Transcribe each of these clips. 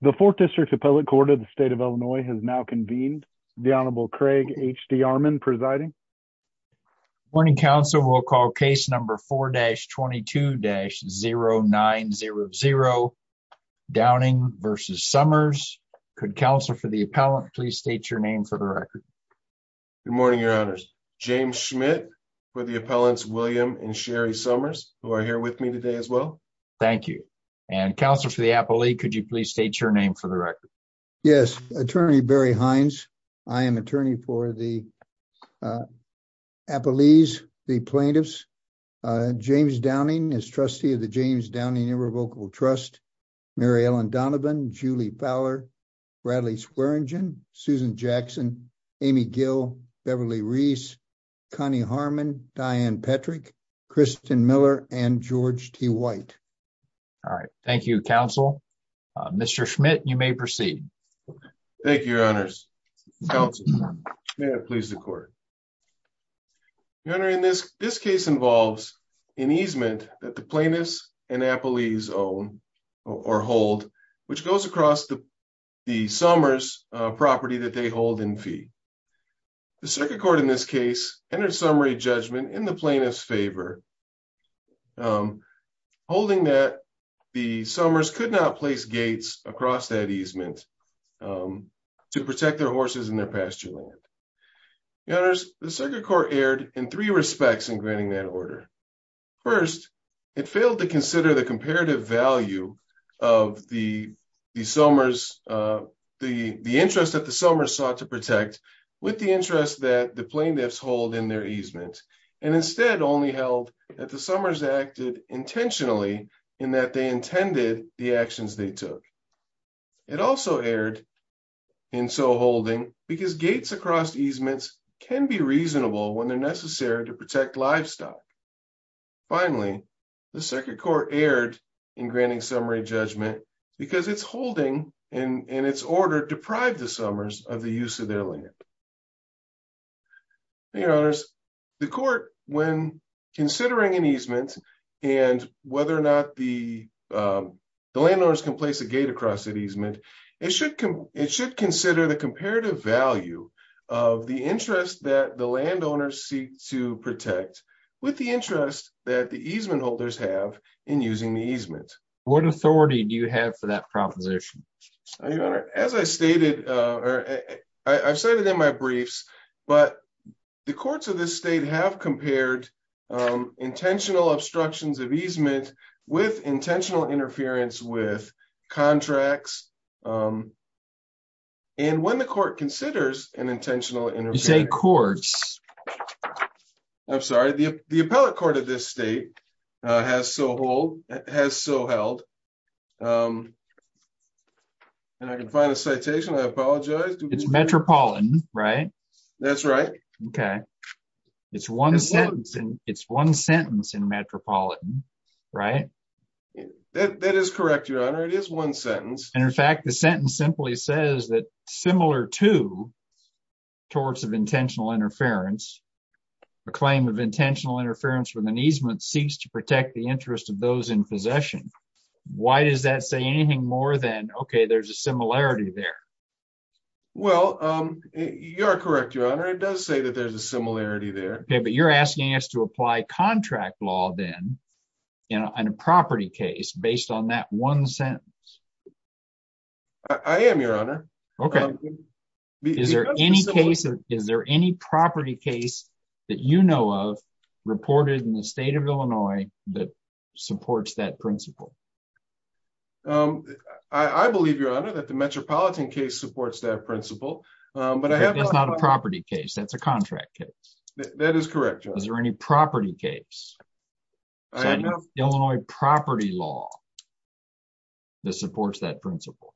The Fourth District's Appellate Court of the State of Illinois has now convened. The Honorable Craig H.D. Armon presiding. Good morning, counsel. We'll call case number 4-22-0900, Downing v. Somers. Could counsel for the appellant please state your name for the record. Good morning, your honors. James Schmidt for the appellants William and Sherry Somers, who are here with me today as well. Thank you. And counsel for the appellee, could you please state your name for the record. Yes, Attorney Barry Hines. I am attorney for the appellees, the plaintiffs. James Downing is trustee of the James Downing Irrevocable Trust. Mary Ellen Donovan, Julie Fowler, Bradley Swearingen, Susan Jackson, Amy Gill, Beverly Reese, Connie Harmon, Diane Petrick, Kristen Miller, and George T. White. All right. Thank you, counsel. Mr. Schmidt, you may proceed. Thank you, your honors. Counsel, may I please the court. Your honor, in this case involves an easement that the plaintiffs and appellees own or hold, which goes across the Somers property that they hold in fee. The circuit court in this case entered summary judgment in the plaintiff's favor, holding that the Somers could not place gates across that easement to protect their horses and their pasture land. Your honors, the circuit court erred in three respects in granting that order. First, it failed to consider the comparative value of the Somers, the interest that the Somers sought to protect with the interest that the plaintiffs hold in their easement, and instead only held that the Somers acted intentionally in that they intended the actions they took. It also erred in so holding because gates across easements can be reasonable when they're necessary to protect livestock. Finally, the circuit court erred in granting summary judgment because it's holding in its order deprived the Somers of the use of their land. Your honors, the court, when considering an easement and whether or not the landowners can place a gate across the easement, it should consider the comparative value of the interest that the landowners seek to protect with the interest that the easement holders have in using the easement. What authority do you have for that proposition? Your honor, as I stated, or I've said it in my briefs, but the courts of this state have compared intentional obstructions of easement with intentional interference with contracts. And when the court considers an intentional interference... You say courts. I'm sorry, the appellate court of this state has so held. And I can find a citation, I apologize. It's Metropolitan, right? That's right. Okay. It's one sentence in Metropolitan, right? That is correct, your honor, it is one sentence. And in fact, the sentence simply says that similar to torts of intentional interference, a claim of intentional interference with an easement seeks to protect the interest of those in possession. Why does that say anything more than, okay, there's a similarity there? Well, you're correct, your honor, it does say that there's a similarity there. Okay, but you're asking us to apply contract law then in a property case based on that one sentence. I am, your honor. Okay. Is there any property case that you know of reported in the state of Illinois that supports that principle? I believe, your honor, that the Metropolitan case supports that principle. It's not a property case, that's a contract case. That is correct, your honor. Is there any property case, Illinois property law, that supports that principle?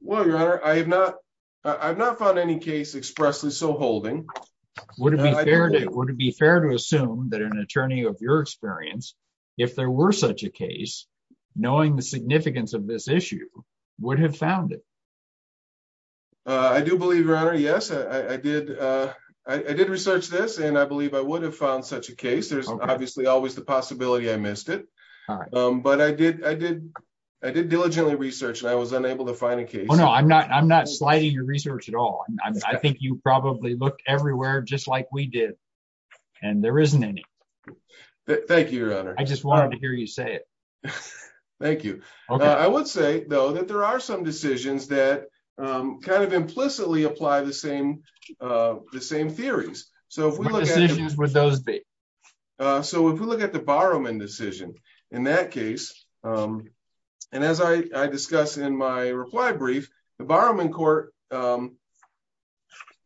Well, your honor, I have not found any case expressly so holding. Would it be fair to assume that an attorney of your experience, if there were such a case, knowing the significance of this issue, would have found it? I do believe, your honor, yes. I did research this and I believe I would have found such a case. There's obviously always the possibility I missed it. But I did diligently research and I was unable to find a case. No, I'm not sliding your research at all. I think you probably looked everywhere just like we did and there isn't any. Thank you, your honor. I just wanted to hear you say it. Thank you. I would say, though, that there are some decisions that kind of implicitly apply the same theories. What decisions would those be? So if we look at the Borrowman decision, in that case, and as I discussed in my reply brief, the Borrowman court.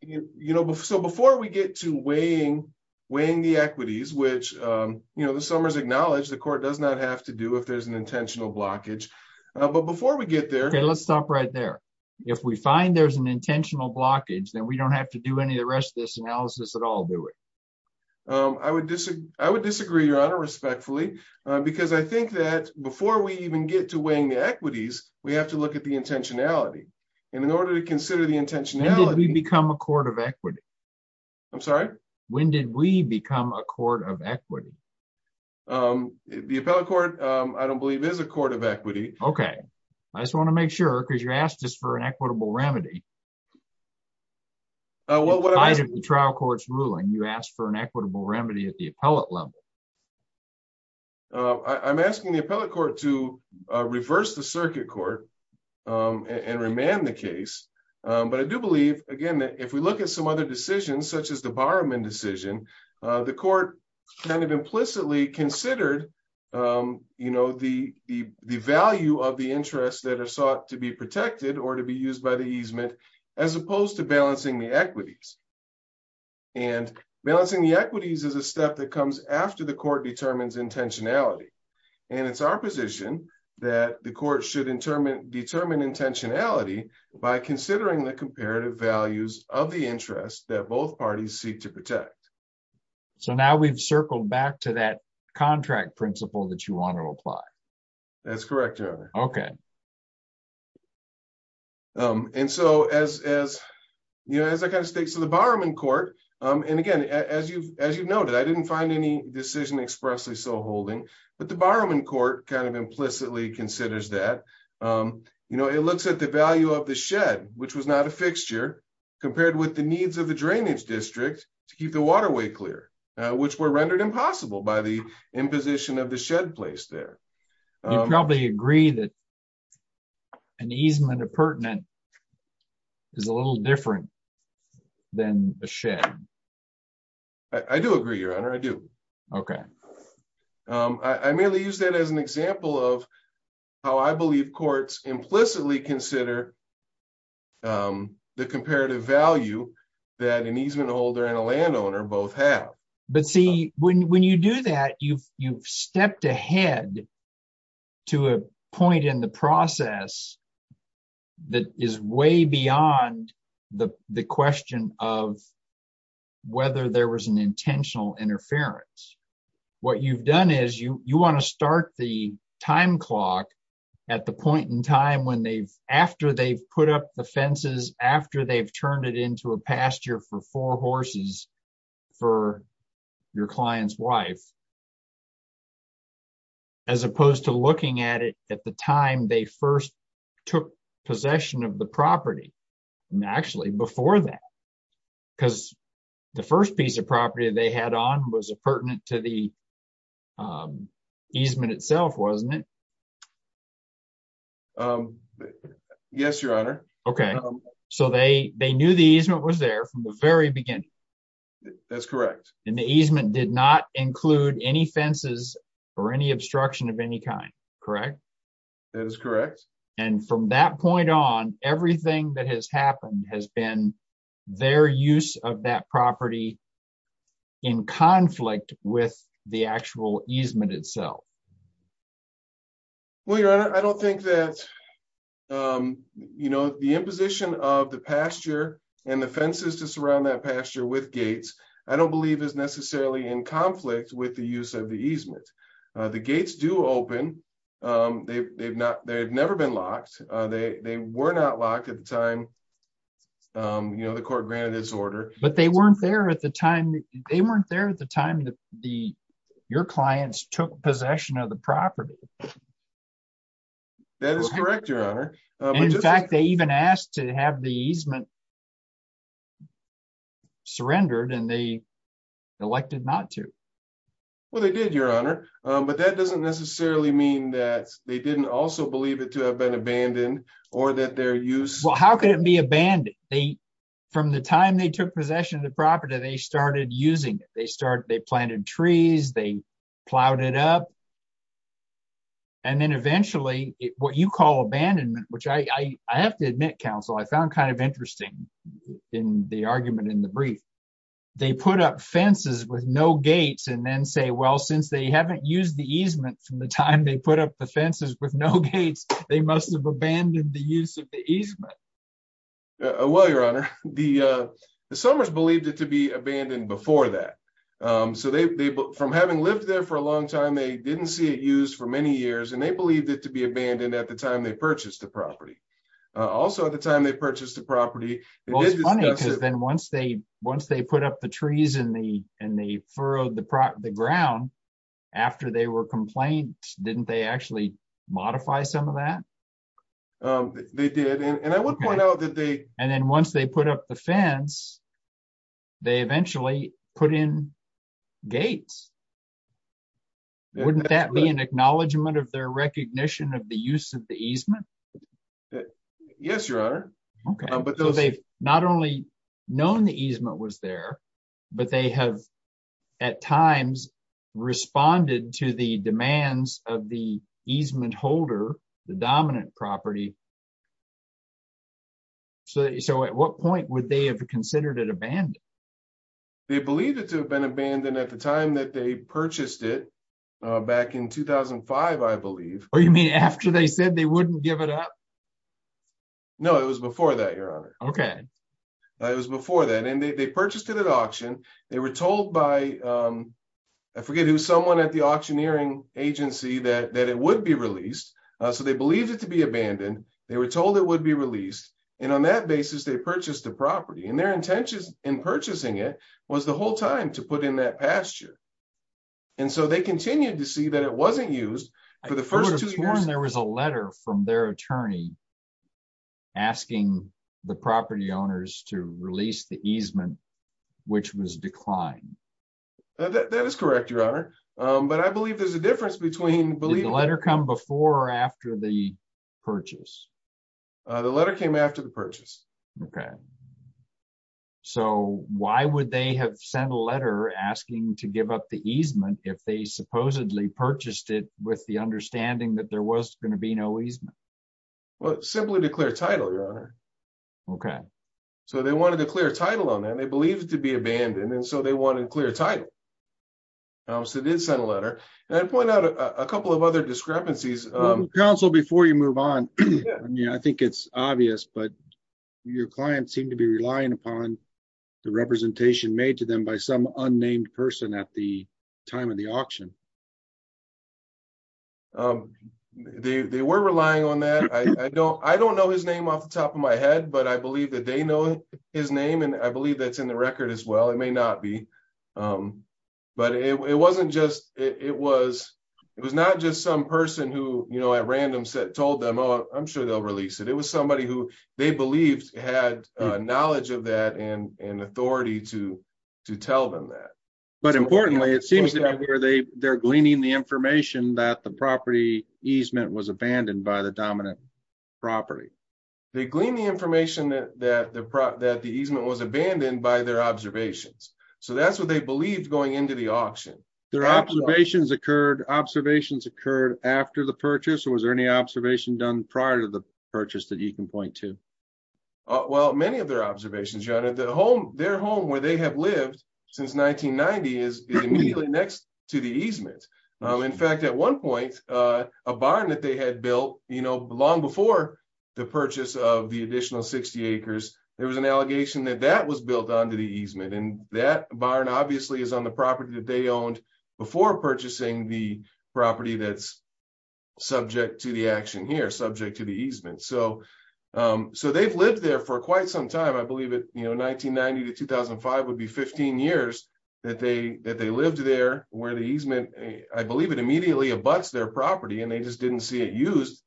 You know, so before we get to weighing weighing the equities, which, you know, the Summers acknowledge the court does not have to do if there's an intentional blockage. But before we get there, let's stop right there. If we find there's an intentional blockage, then we don't have to do any of the rest of this analysis at all, do we? I would I would disagree, your honor, respectfully, because I think that before we even get to weighing the equities, we have to look at the intentionality. And in order to consider the intentionality, we become a court of equity. I'm sorry. When did we become a court of equity? The appellate court, I don't believe, is a court of equity. OK, I just want to make sure, because you asked us for an equitable remedy. Well, what is the trial court's ruling? You asked for an equitable remedy at the appellate level. I'm asking the appellate court to reverse the circuit court and remand the case. But I do believe, again, that if we look at some other decisions such as the barman decision, the court kind of implicitly considered, you know, the the the value of the interests that are sought to be protected or to be used by the easement, as opposed to balancing the equities. And balancing the equities is a step that comes after the court determines intentionality, and it's our position that the court should determine determine intentionality by considering the comparative values of the interest that both parties seek to protect. So now we've circled back to that contract principle that you want to apply. That's correct, your honor. OK. And so as as you know, as I kind of states of the barman court. And again, as you as you noted, I didn't find any decision expressly so holding. But the barman court kind of implicitly considers that, you know, it looks at the value of the shed, which was not a fixture compared with the needs of the drainage district to keep the waterway clear, which were rendered impossible by the imposition of the shed place there. You probably agree that an easement of pertinent is a little different than a shed. I do agree, your honor. I do. OK. I merely use that as an example of how I believe courts implicitly consider the comparative value that an easement holder and a landowner both have. But see, when you do that, you've you've stepped ahead to a point in the process that is way beyond the question of whether there was an intentional interference. What you've done is you want to start the time clock at the point in time when they've after they've put up the fences, after they've turned it into a pasture for four horses for your client's wife. As opposed to looking at it at the time they first took possession of the property and actually before that, because the first piece of property they had on was a pertinent to the easement itself, wasn't it? Yes, your honor. OK. So they they knew the easement was there from the very beginning. That's correct. And the easement did not include any fences or any obstruction of any kind. Correct. That is correct. And from that point on, everything that has happened has been their use of that property in conflict with the actual easement itself. Well, your honor, I don't think that, you know, the imposition of the pasture and the fences to surround that pasture with gates, I don't believe is necessarily in conflict with the use of the easement. The gates do open. They've not they've never been locked. They were not locked at the time, you know, the court granted this order. But they weren't there at the time. They weren't there at the time that the your clients took possession of the property. That is correct, your honor. In fact, they even asked to have the easement surrendered and they elected not to. Well, they did, your honor. But that doesn't necessarily mean that they didn't also believe it to have been abandoned or that their use. Well, how can it be abandoned? They from the time they took possession of the property, they started using it. They started they planted trees. They plowed it up. And then eventually what you call abandonment, which I have to admit, counsel, I found kind of interesting in the argument in the brief. They put up fences with no gates and then say, well, since they haven't used the easement from the time they put up the fences with no gates, they must have abandoned the use of the easement. Well, your honor, the Summers believed it to be abandoned before that. So they from having lived there for a long time, they didn't see it used for many years and they believed it to be abandoned at the time they purchased the property. Also, at the time they purchased the property. Well, it's funny because then once they once they put up the trees in the in the furrow of the ground after they were complained, didn't they actually modify some of that? They did. And I would point out that they. And then once they put up the fence, they eventually put in gates. Wouldn't that be an acknowledgement of their recognition of the use of the easement? Yes, your honor. OK, but they've not only known the easement was there, but they have at times responded to the demands of the easement holder, the dominant property. So so at what point would they have considered it abandoned? They believed it to have been abandoned at the time that they purchased it back in 2005, I believe. Or you mean after they said they wouldn't give it up? No, it was before that, your honor. OK. It was before that. And they purchased it at auction. They were told by I forget who someone at the auctioneering agency that that it would be released. So they believed it to be abandoned. They were told it would be released. And on that basis, they purchased the property and their intentions in purchasing it was the whole time to put in that pasture. And so they continued to see that it wasn't used for the first two years. There was a letter from their attorney. Asking the property owners to release the easement, which was declined. That is correct, your honor. But I believe there's a difference between the letter come before or after the purchase. The letter came after the purchase. OK. So why would they have sent a letter asking to give up the easement if they supposedly purchased it with the understanding that there was going to be no easement? Well, simply to clear title, your honor. OK. So they wanted to clear title on that. They believe it to be abandoned. And so they wanted clear title. I also did send a letter and point out a couple of other discrepancies council before you move on. Yeah, I think it's obvious, but your clients seem to be relying upon the representation made to them by some unnamed person at the time of the auction. They were relying on that. I don't I don't know his name off the top of my head, but I believe that they know his name. And I believe that's in the record as well. It may not be. But it wasn't just it was it was not just some person who, you know, at random said told them, oh, I'm sure they'll release it. It was somebody who they believed had knowledge of that and authority to to tell them that. But importantly, it seems that they're gleaning the information that the property easement was abandoned by the dominant property. They glean the information that the that the easement was abandoned by their observations. So that's what they believed going into the auction. Their observations occurred. Observations occurred after the purchase. Was there any observation done prior to the purchase that you can point to? Well, many of their observations, John, at the home, their home where they have lived since 1990 is immediately next to the easement. In fact, at one point, a barn that they had built long before the purchase of the additional 60 acres, there was an allegation that that was built onto the easement and that barn obviously is on the property that they owned before purchasing the property that's subject to the action here, subject to the easement. So so they've lived there for quite some time. I believe it, you know, 1990 to 2005 would be 15 years that they that they lived there where the easement. I believe it immediately abuts their property and they just didn't see it used.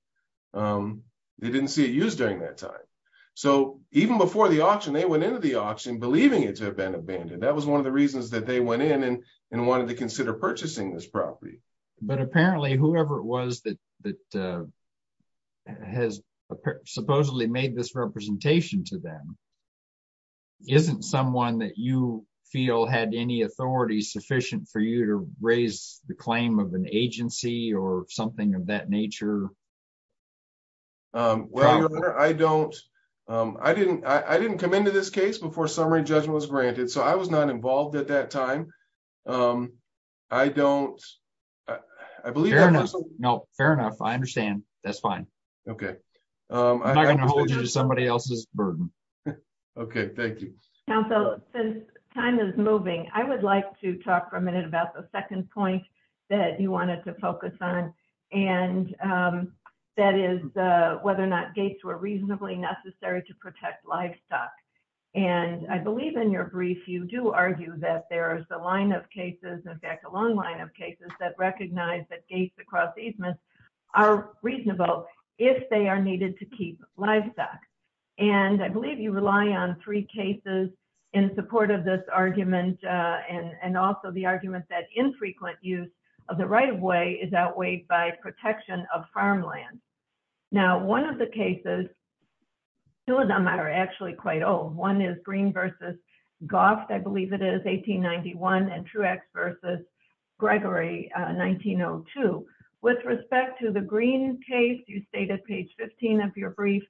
They didn't see it used during that time. So even before the auction, they went into the auction believing it to have been abandoned. That was one of the reasons that they went in and wanted to consider purchasing this property. But apparently whoever it was that that has supposedly made this representation to them. Isn't someone that you feel had any authority sufficient for you to raise the claim of an agency or something of that nature? Well, I don't I didn't I didn't come into this case before summary judgment was granted, so I was not involved at that time. I don't I believe. No, fair enough. I understand. That's fine. Okay. I'm not going to hold you to somebody else's burden. Okay, thank you. Council, since time is moving, I would like to talk for a minute about the second point that you wanted to focus on. And that is whether or not gates were reasonably necessary to protect livestock. And I believe in your brief, you do argue that there is a line of cases, in fact, a long line of cases that recognize that gates across easements are reasonable if they are needed to keep livestock. And I believe you rely on three cases in support of this argument and also the argument that infrequent use of the right of way is outweighed by protection of farmland. Now, one of the cases. Two of them are actually quite old. One is green versus golf. I believe it is 1891 and Truex versus Gregory 1902. With respect to the green case, you state at page 15 of your brief,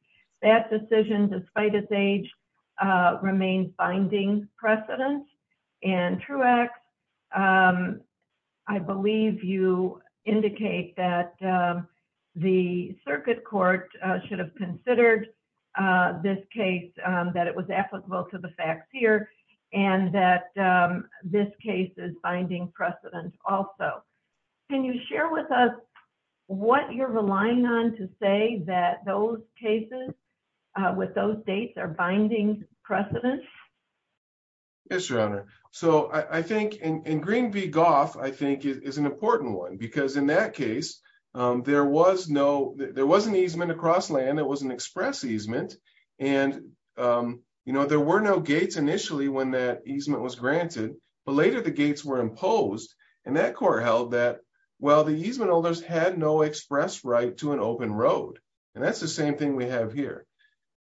that decision, despite its age, remains binding precedent and Truex. I believe you indicate that the circuit court should have considered this case, that it was applicable to the facts here and that this case is binding precedent. Also, can you share with us what you're relying on to say that those cases with those dates are binding precedent. Yes, Your Honor. So I think in Green v. Golf, I think is an important one because in that case, there was no, there was an easement across land that was an express easement. And, you know, there were no gates initially when that easement was granted, but later the gates were imposed and that court held that, well, the easement owners had no express right to an open road. And that's the same thing we have here.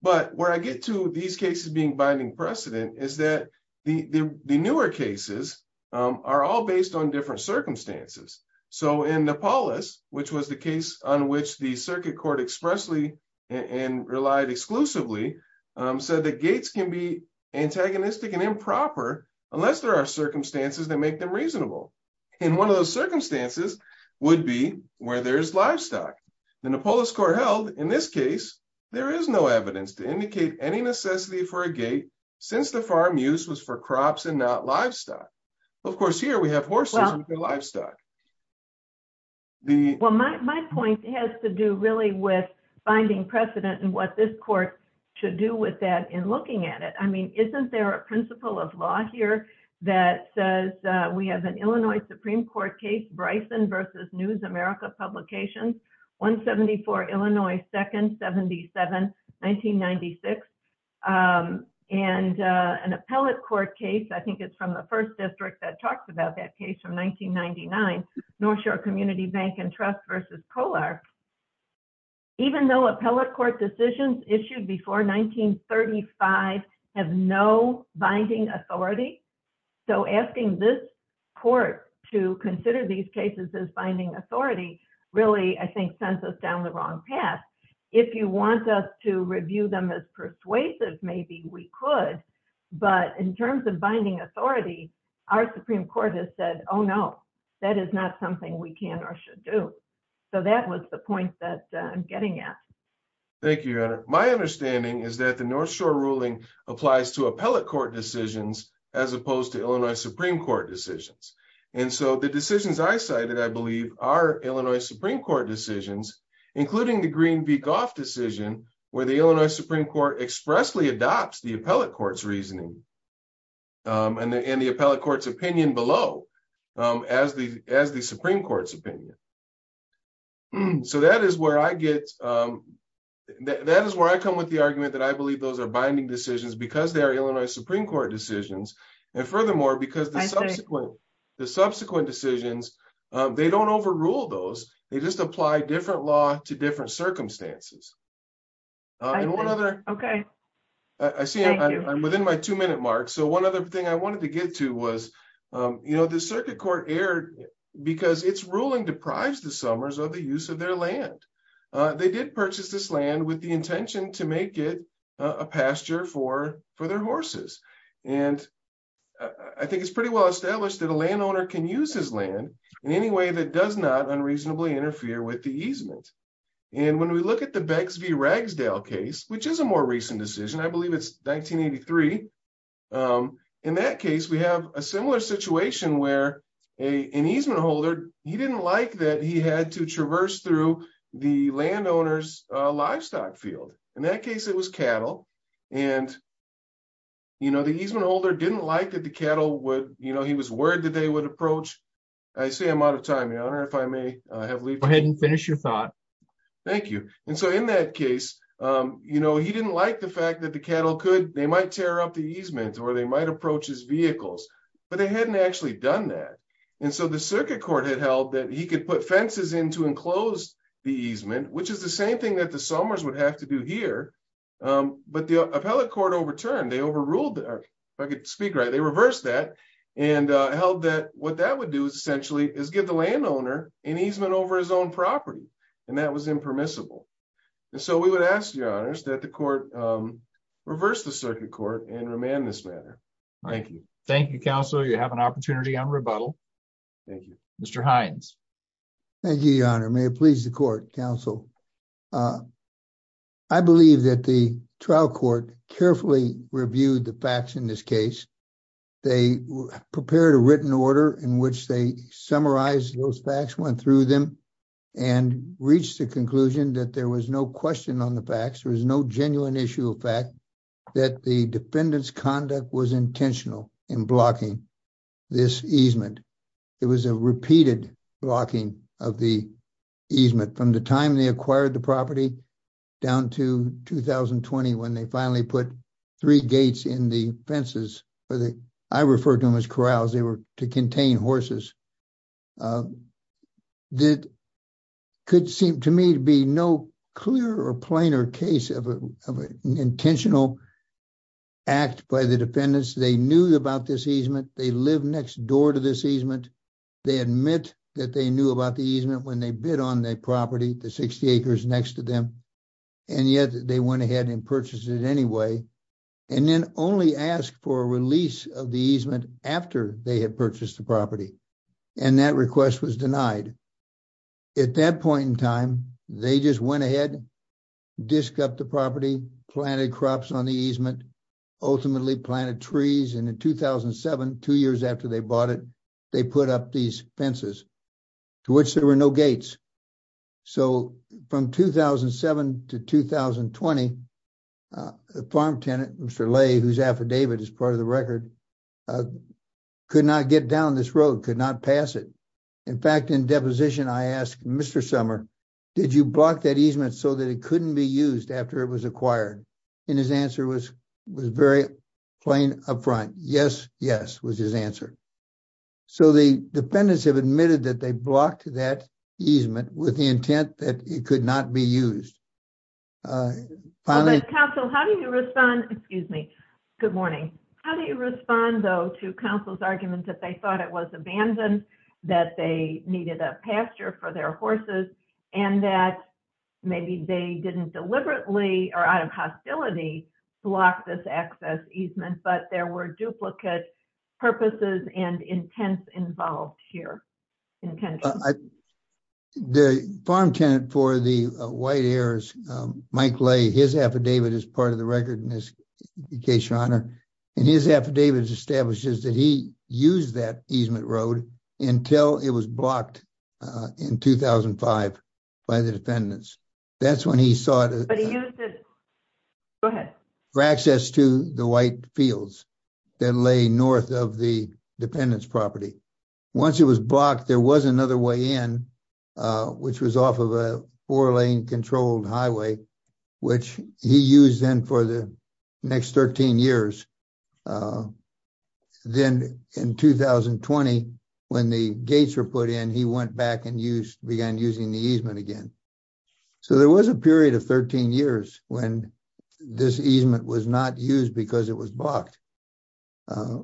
But where I get to these cases being binding precedent is that the newer cases are all based on different circumstances. So in Nepalis, which was the case on which the circuit court expressly and relied exclusively, said that gates can be antagonistic and improper unless there are circumstances that make them reasonable. And one of those circumstances would be where there's livestock. The Nepalis court held in this case, there is no evidence to indicate any necessity for a gate since the farm use was for crops and not livestock. Of course, here we have horses and livestock. Well, my point has to do really with finding precedent and what this court should do with that in looking at it. I mean, isn't there a principle of law here that says we have an Illinois Supreme Court case, Bryson v. News America Publications, 174 Illinois 2nd, 77, 1996. And an appellate court case, I think it's from the first district that talks about that case from 1999, North Shore Community Bank and Trust v. Polar. Even though appellate court decisions issued before 1935 have no binding authority. So asking this court to consider these cases as binding authority really, I think, sends us down the wrong path. If you want us to review them as persuasive, maybe we could, but in terms of binding authority, our Supreme Court has said, oh no, that is not something we can or should do. So that was the point that I'm getting at. Thank you, Your Honor. My understanding is that the North Shore ruling applies to appellate court decisions as opposed to Illinois Supreme Court decisions. And so the decisions I cited, I believe, are Illinois Supreme Court decisions, including the Green v. Goff decision where the Illinois Supreme Court expressly adopts the appellate court's reasoning and the appellate court's opinion below as the Supreme Court's opinion. So that is where I come with the argument that I believe those are binding decisions because they are Illinois Supreme Court decisions. And furthermore, because the subsequent decisions, they don't overrule those. They just apply different law to different circumstances. Okay. I see I'm within my two minute mark. So one other thing I wanted to get to was, you know, the circuit court erred because its ruling deprives the Summers of the use of their land. They did purchase this land with the intention to make it a pasture for their horses. And I think it's pretty well established that a landowner can use his land in any way that does not unreasonably interfere with the easement. And when we look at the Beggs v. Ragsdale case, which is a more recent decision, I believe it's 1983. In that case, we have a similar situation where an easement holder, he didn't like that he had to traverse through the landowner's livestock field. In that case, it was cattle. And, you know, the easement holder didn't like that the cattle would, you know, he was worried that they would approach. I see I'm out of time, Your Honor, if I may have leave. Go ahead and finish your thought. Thank you. And so in that case, you know, he didn't like the fact that the cattle could, they might tear up the easement or they might approach his vehicles, but they hadn't actually done that. And so the circuit court had held that he could put fences in to enclose the easement, which is the same thing that the Summers would have to do here. But the appellate court overturned, they overruled, if I could speak right, they reversed that and held that what that would do is essentially is give the landowner an easement over his own property. And that was impermissible. And so we would ask, Your Honors, that the court reverse the circuit court and remand this matter. Thank you. Thank you, Counselor. You have an opportunity on rebuttal. Thank you. Mr. Hines. Thank you, Your Honor. May it please the court, Counsel. I believe that the trial court carefully reviewed the facts in this case. They prepared a written order in which they summarize those facts, went through them and reached the conclusion that there was no question on the facts. There was no genuine issue of fact that the defendant's conduct was intentional in blocking this easement. It was a repeated blocking of the easement from the time they acquired the property down to 2020 when they finally put three gates in the fences. I refer to them as corrals. They were to contain horses. That could seem to me to be no clear or plainer case of an intentional act by the defendants. They knew about this easement. They live next door to this easement. They admit that they knew about the easement when they bid on their property, the 60 acres next to them. And yet they went ahead and purchased it anyway. And then only asked for a release of the easement after they had purchased the property. And that request was denied. At that point in time, they just went ahead, disc up the property, planted crops on the easement, ultimately planted trees. And in 2007, two years after they bought it, they put up these fences to which there were no gates. So from 2007 to 2020, the farm tenant, Mr. Lay, whose affidavit is part of the record, could not get down this road, could not pass it. In fact, in deposition, I asked Mr. Summer, did you block that easement so that it couldn't be used after it was acquired? And his answer was very plain up front. Yes, yes, was his answer. So the defendants have admitted that they blocked that easement with the intent that it could not be used. Counsel, how do you respond? Excuse me. Good morning. How do you respond, though, to counsel's argument that they thought it was abandoned, that they needed a pasture for their horses, and that maybe they didn't deliberately or out of hostility block this access easement. But there were duplicate purposes and intents involved here. The farm tenant for the White Heirs, Mike Lay, his affidavit is part of the record in this case, your honor. And his affidavit establishes that he used that easement road until it was blocked in 2005 by the defendants. That's when he sought access to the white fields that lay north of the defendant's property. Once it was blocked, there was another way in, which was off of a four-lane controlled highway, which he used then for the next 13 years. Then in 2020, when the gates were put in, he went back and began using the easement again. So there was a period of 13 years when this easement was not used because it was blocked. Why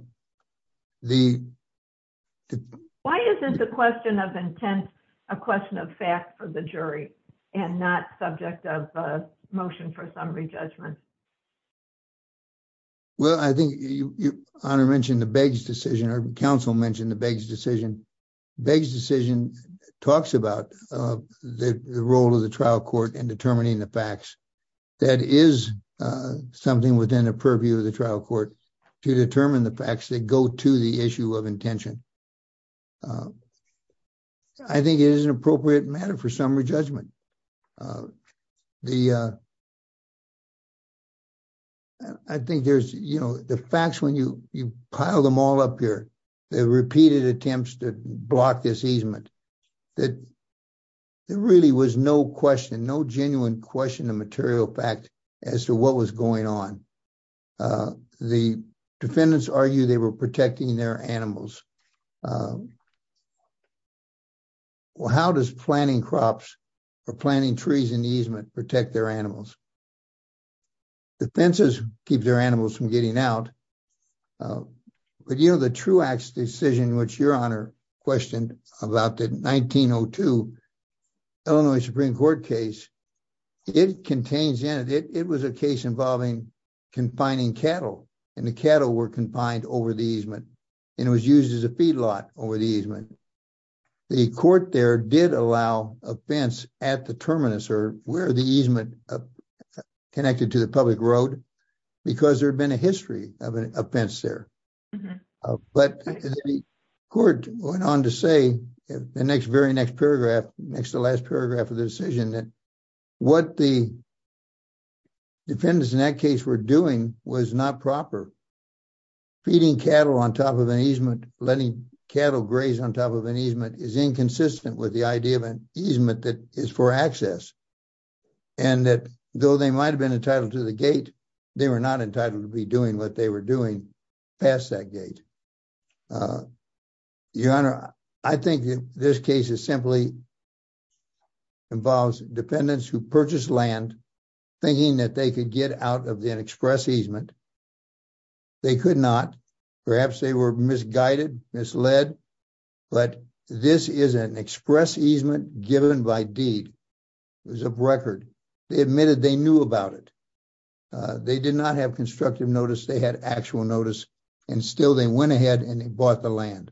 isn't the question of intent a question of fact for the jury and not subject of motion for summary judgment? Well, I think your honor mentioned the Beggs decision, or counsel mentioned the Beggs decision. Beggs decision talks about the role of the trial court in determining the facts. That is something within the purview of the trial court to determine the facts that go to the issue of intention. I think it is an appropriate matter for summary judgment. I think there's, you know, the facts when you pile them all up here, the repeated attempts to block this easement, that there really was no question, no genuine question of material fact as to what was going on. The defendants argue they were protecting their animals. How does planting crops or planting trees in the easement protect their animals? The fences keep their animals from getting out. But, you know, the Truax decision, which your honor questioned about the 1902 Illinois Supreme Court case, it contains in it, it was a case involving confining cattle. And the cattle were confined over the easement and it was used as a feedlot over the easement. The court there did allow a fence at the terminus or where the easement connected to the public road because there had been a history of an offense there. But the court went on to say in the very next paragraph, next to the last paragraph of the decision, that what the defendants in that case were doing was not proper. Feeding cattle on top of an easement, letting cattle graze on top of an easement is inconsistent with the idea of an easement that is for access. And that though they might have been entitled to the gate, they were not entitled to be doing what they were doing past that gate. Your honor, I think this case is simply involves defendants who purchased land, thinking that they could get out of the express easement they could not, perhaps they were misguided, misled, but this is an express easement given by deed. It was a record. They admitted they knew about it. They did not have constructive notice, they had actual notice and still they went ahead and they bought the land.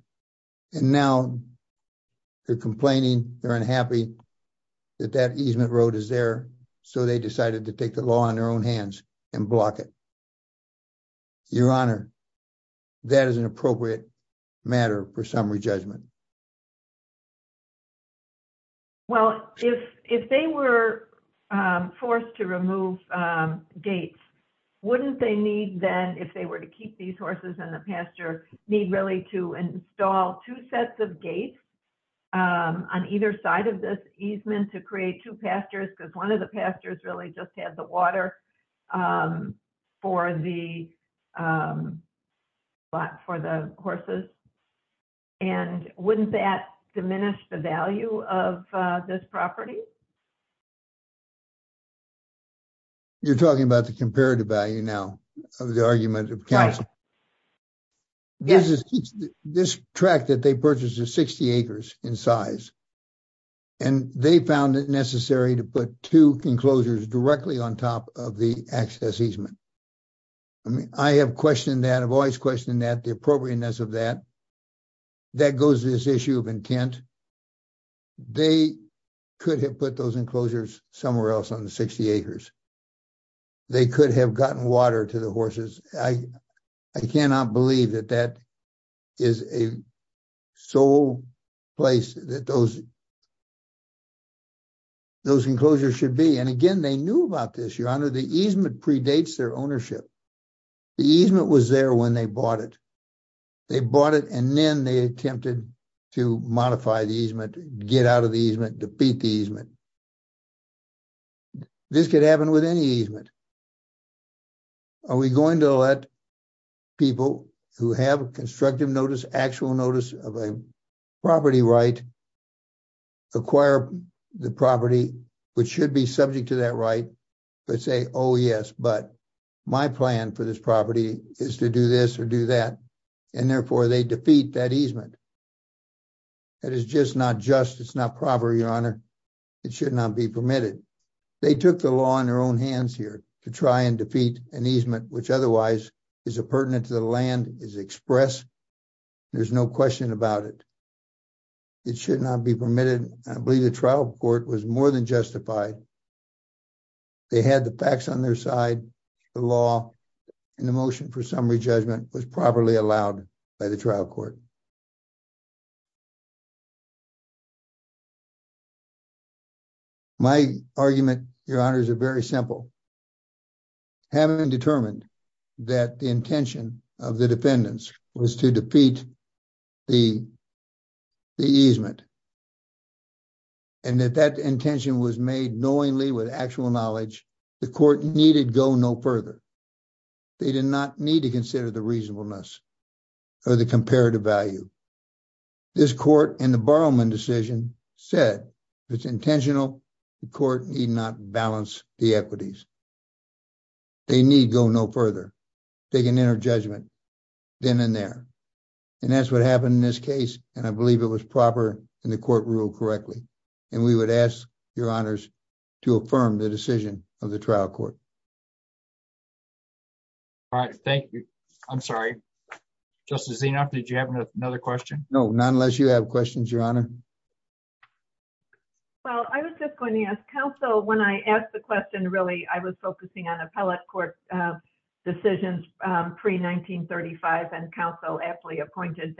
And now they're complaining, they're unhappy that that easement road is there, so they decided to take the law in their own hands and block it. Your honor, that is an appropriate matter for summary judgment. Well, if they were forced to remove gates, wouldn't they need then, if they were to keep these horses in the pasture, need really to install two sets of gates on either side of this easement to create two pastures because one of the pastures really just had the water for the horses. And wouldn't that diminish the value of this property? You're talking about the comparative value now of the argument of counsel. This tract that they purchased is 60 acres in size and they found it necessary to put two enclosures directly on top of the access easement. I have questioned that, I've always questioned that, the appropriateness of that. That goes to this issue of intent. They could have put those enclosures somewhere else on the 60 acres. They could have gotten water to the horses. I cannot believe that that is a sole place that those enclosures should be. And again, they knew about this, your honor. The easement predates their ownership. The easement was there when they bought it. They bought it and then they attempted to modify the easement, get out of the easement, defeat the easement. This could happen with any easement. Are we going to let people who have constructive notice, actual notice of a property right, acquire the property, which should be subject to that right, but say, oh yes, but my plan for this property is to do this or do that. And therefore, they defeat that easement. That is just not just, it's not proper, your honor. It should not be permitted. They took the law in their own hands here to try and defeat an easement, which otherwise is a pertinent to the land, is expressed. There's no question about it. It should not be permitted. I believe the trial court was more than justified. They had the facts on their side. The law and the motion for summary judgment was properly allowed by the trial court. Thank you. My argument, your honor, is very simple. Having determined that the intention of the defendants was to defeat the easement, and that that intention was made knowingly with actual knowledge, the court needed go no further. They did not need to consider the reasonableness or the comparative value. This court in the Borrowman decision said it's intentional. The court need not balance the equities. They need go no further. They can enter judgment then and there. And that's what happened in this case. And I believe it was proper and the court ruled correctly. And we would ask your honors to affirm the decision of the trial court. All right, thank you. I'm sorry. Justice Zenoff, did you have another question? No, not unless you have questions, your honor. Well, I was just going to ask counsel, when I asked the question, really, I was focusing on appellate court decisions pre-1935, and counsel aptly pointed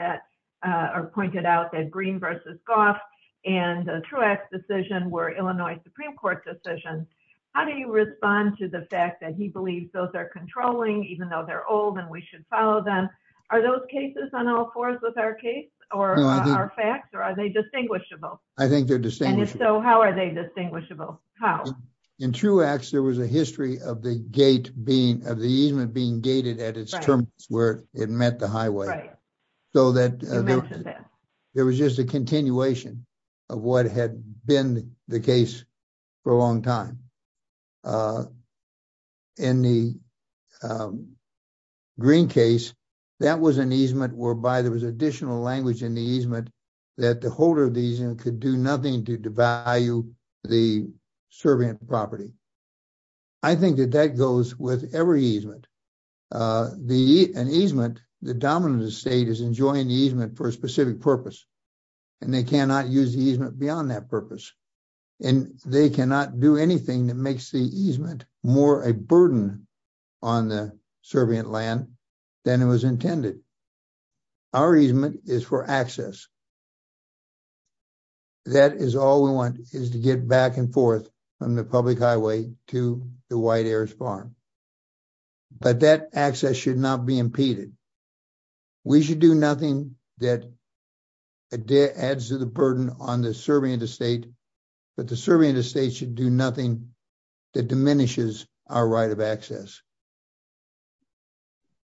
out that Green v. Goff and Truax decision were Illinois Supreme Court decisions. How do you respond to the fact that he believes those are controlling even though they're old and we should follow them? Are those cases on all fours with our case or our facts or are they distinguishable? I think they're distinguishable. And if so, how are they distinguishable? How? In Truax, there was a history of the easement being gated at its terminus where it met the highway. Right. You mentioned that. There was just a continuation of what had been the case for a long time. In the Green case, that was an easement whereby there was additional language in the easement that the holder of the easement could do nothing to devalue the servant property. I think that that goes with every easement. An easement, the dominant state is enjoying the easement for a specific purpose, and they cannot use the easement beyond that purpose. And they cannot do anything that makes the easement more a burden on the servant land than it was intended. Our easement is for access. That is all we want is to get back and forth from the public highway to the White Heirs Farm. But that access should not be impeded. We should do nothing that adds to the burden on the servant estate. But the servant estate should do nothing that diminishes our right of access.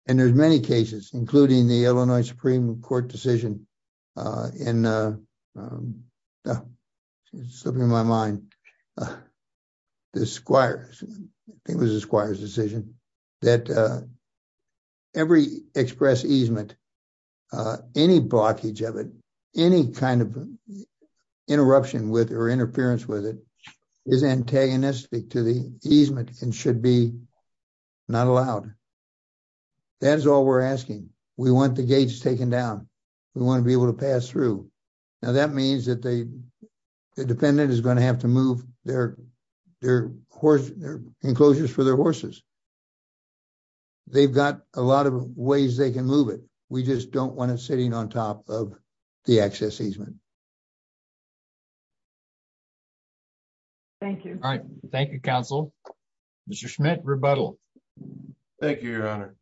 And there's many cases, including the Illinois Supreme Court decision in, slipping my mind, the Squires, I think it was the Squires decision, that every express easement, any blockage of it, any kind of interruption with or interference with it, is antagonistic to the easement and should be not allowed. That is all we're asking. We want the gates taken down. We want to be able to pass through. Now that means that the defendant is going to have to move their enclosures for their horses. They've got a lot of ways they can move it. We just don't want it sitting on top of the access easement. Thank you. Thank you, counsel. Mr. Schmidt, rebuttal. Thank you, Your Honor.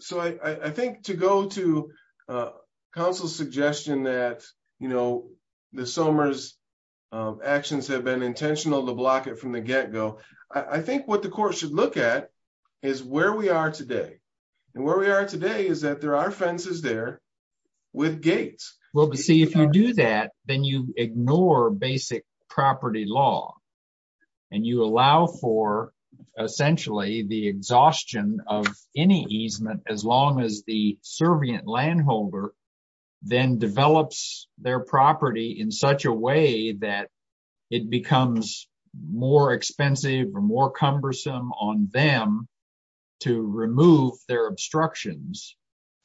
So I think to go to counsel's suggestion that the Somers actions have been intentional to block it from the get-go, I think what the court should look at is where we are today. And where we are today is that there are fences there with gates. Well, but see, if you do that, then you ignore basic property law. And you allow for, essentially, the exhaustion of any easement as long as the servient landholder then develops their property in such a way that it becomes more expensive or more cumbersome on them to remove their obstructions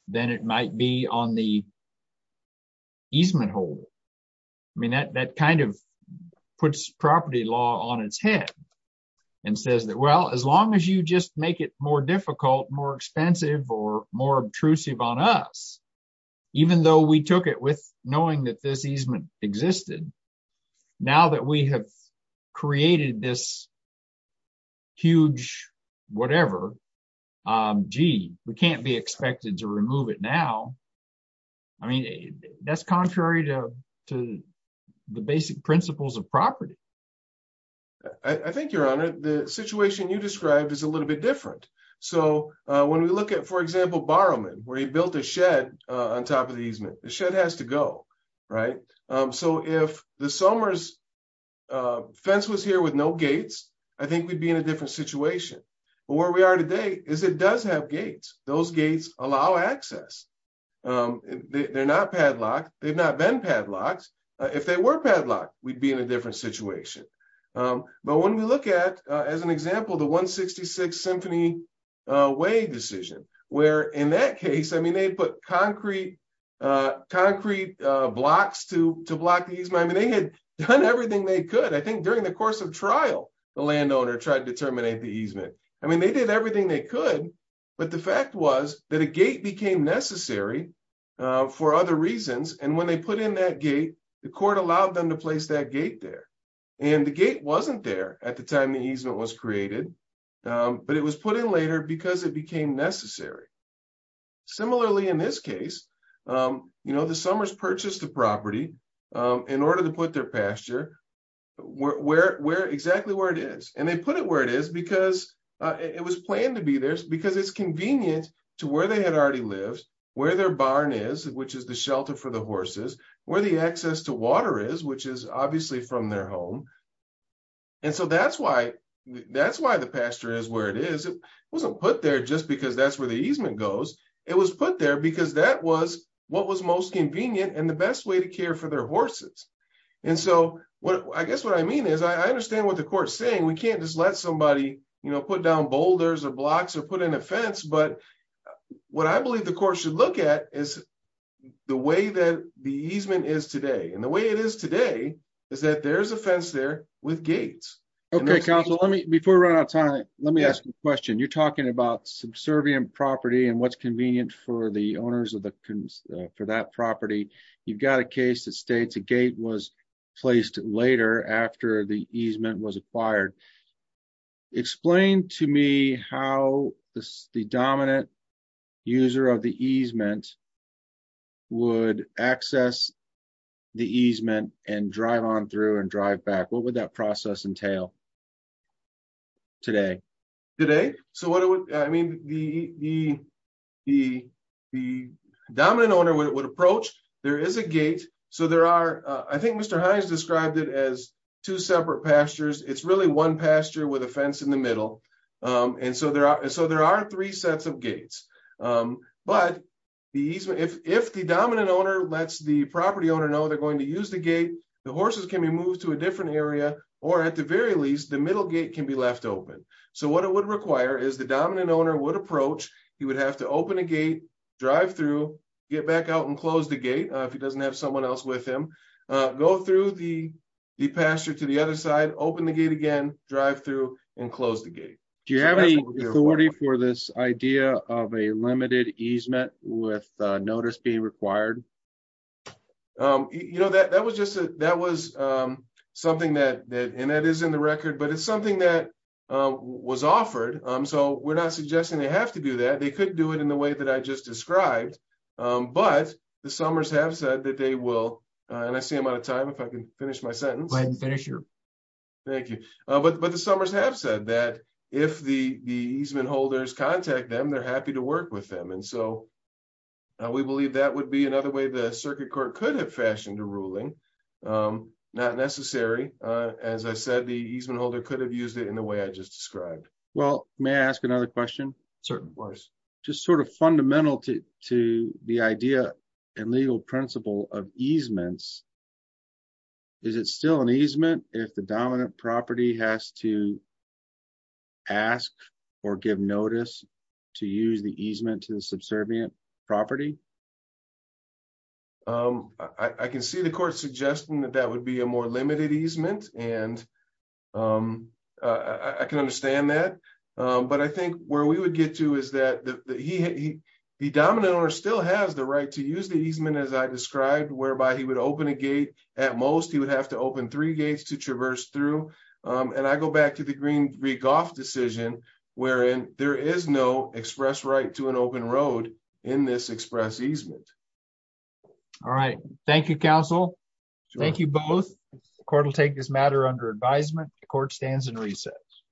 than it might be on the easement hold. I mean, that kind of puts property law on its head and says that, well, as long as you just make it more difficult, more expensive, or more obtrusive on us, even though we took it with knowing that this easement existed, now that we have created this huge whatever, gee, we can't be expected to remove it now. I mean, that's contrary to the basic principles of property. I think, Your Honor, the situation you described is a little bit different. So when we look at, for example, Borrowman, where he built a shed on top of the easement, the shed has to go, right? If the Somers fence was here with no gates, I think we'd be in a different situation. But where we are today is it does have gates. Those gates allow access. They're not padlocked. They've not been padlocked. If they were padlocked, we'd be in a different situation. But when we look at, as an example, the 166th Symphony Way decision, where in that case, I mean, they put concrete blocks to block the easement. They had done everything they could. I think during the course of trial, the landowner tried to terminate the easement. I mean, they did everything they could, but the fact was that a gate became necessary for other reasons. And when they put in that gate, the court allowed them to place that gate there. And the gate wasn't there at the time the easement was created, but it was put in later because it became necessary. Similarly, in this case, the Somers purchased the property in order to put their pasture exactly where it is. And they put it where it is because it was planned to be there because it's convenient to where they had already lived, where their barn is, which is the shelter for the horses, where the access to water is, which is obviously from their home. And so that's why the pasture is where it is. It wasn't put there just because that's where the easement goes. It was put there because that was what was most convenient and the best way to care for their horses. And so I guess what I mean is, I understand what the court's saying. We can't just let somebody put down boulders or blocks or put in a fence, but what I believe the court should look at is the way that the easement is today. And the way it is today is that there's a fence there with gates. Okay, counsel, before we run out of time, let me ask you a question. You're talking about subservient property and what's convenient for the owners for that property. You've got a case that states a gate was placed later after the easement was acquired. Explain to me how the dominant user of the easement would access the easement and drive on through and drive back. What would that process entail today? Today? Okay, so what I mean, the dominant owner would approach. There is a gate. I think Mr. Hines described it as two separate pastures. It's really one pasture with a fence in the middle. And so there are three sets of gates. But if the dominant owner lets the property owner know they're going to use the gate, the horses can be moved to a different area or at the very least, the middle gate can be left open. So what it would require is the dominant owner would approach. He would have to open a gate, drive through, get back out and close the gate if he doesn't have someone else with him. Go through the pasture to the other side, open the gate again, drive through and close the gate. Do you have any authority for this idea of a limited easement with notice being required? You know, that was just, that was just a suggestion. But it's something that was offered. So we're not suggesting they have to do that. They could do it in the way that I just described. But the Summers have said that they will, and I see I'm out of time. If I can finish my sentence. Thank you. But the Summers have said that if the easement holders contact them, they're happy to work with them. And so we believe that would be another way the circuit court could have fashioned a ruling. Not necessary. As I said, the easement holder could have used it in the way I just described. Well, may I ask another question? Certainly. Just sort of fundamental to the idea and legal principle of easements. Is it still an easement if the dominant property has to ask or give notice to use the easement to the subservient property? I can see the court suggesting that that would be a more limited easement. And I can understand that. But I think where we would get to is that the dominant owner still has the right to use the easement as I described, whereby he would open a gate. At most, he would have to open three gates to traverse through. And I go back to the Green Re-Golf decision, wherein there is no express right to an open road in this express easement. All right. Thank you, counsel. Thank you both. The court will take this matter under advisement. The court stands in recess.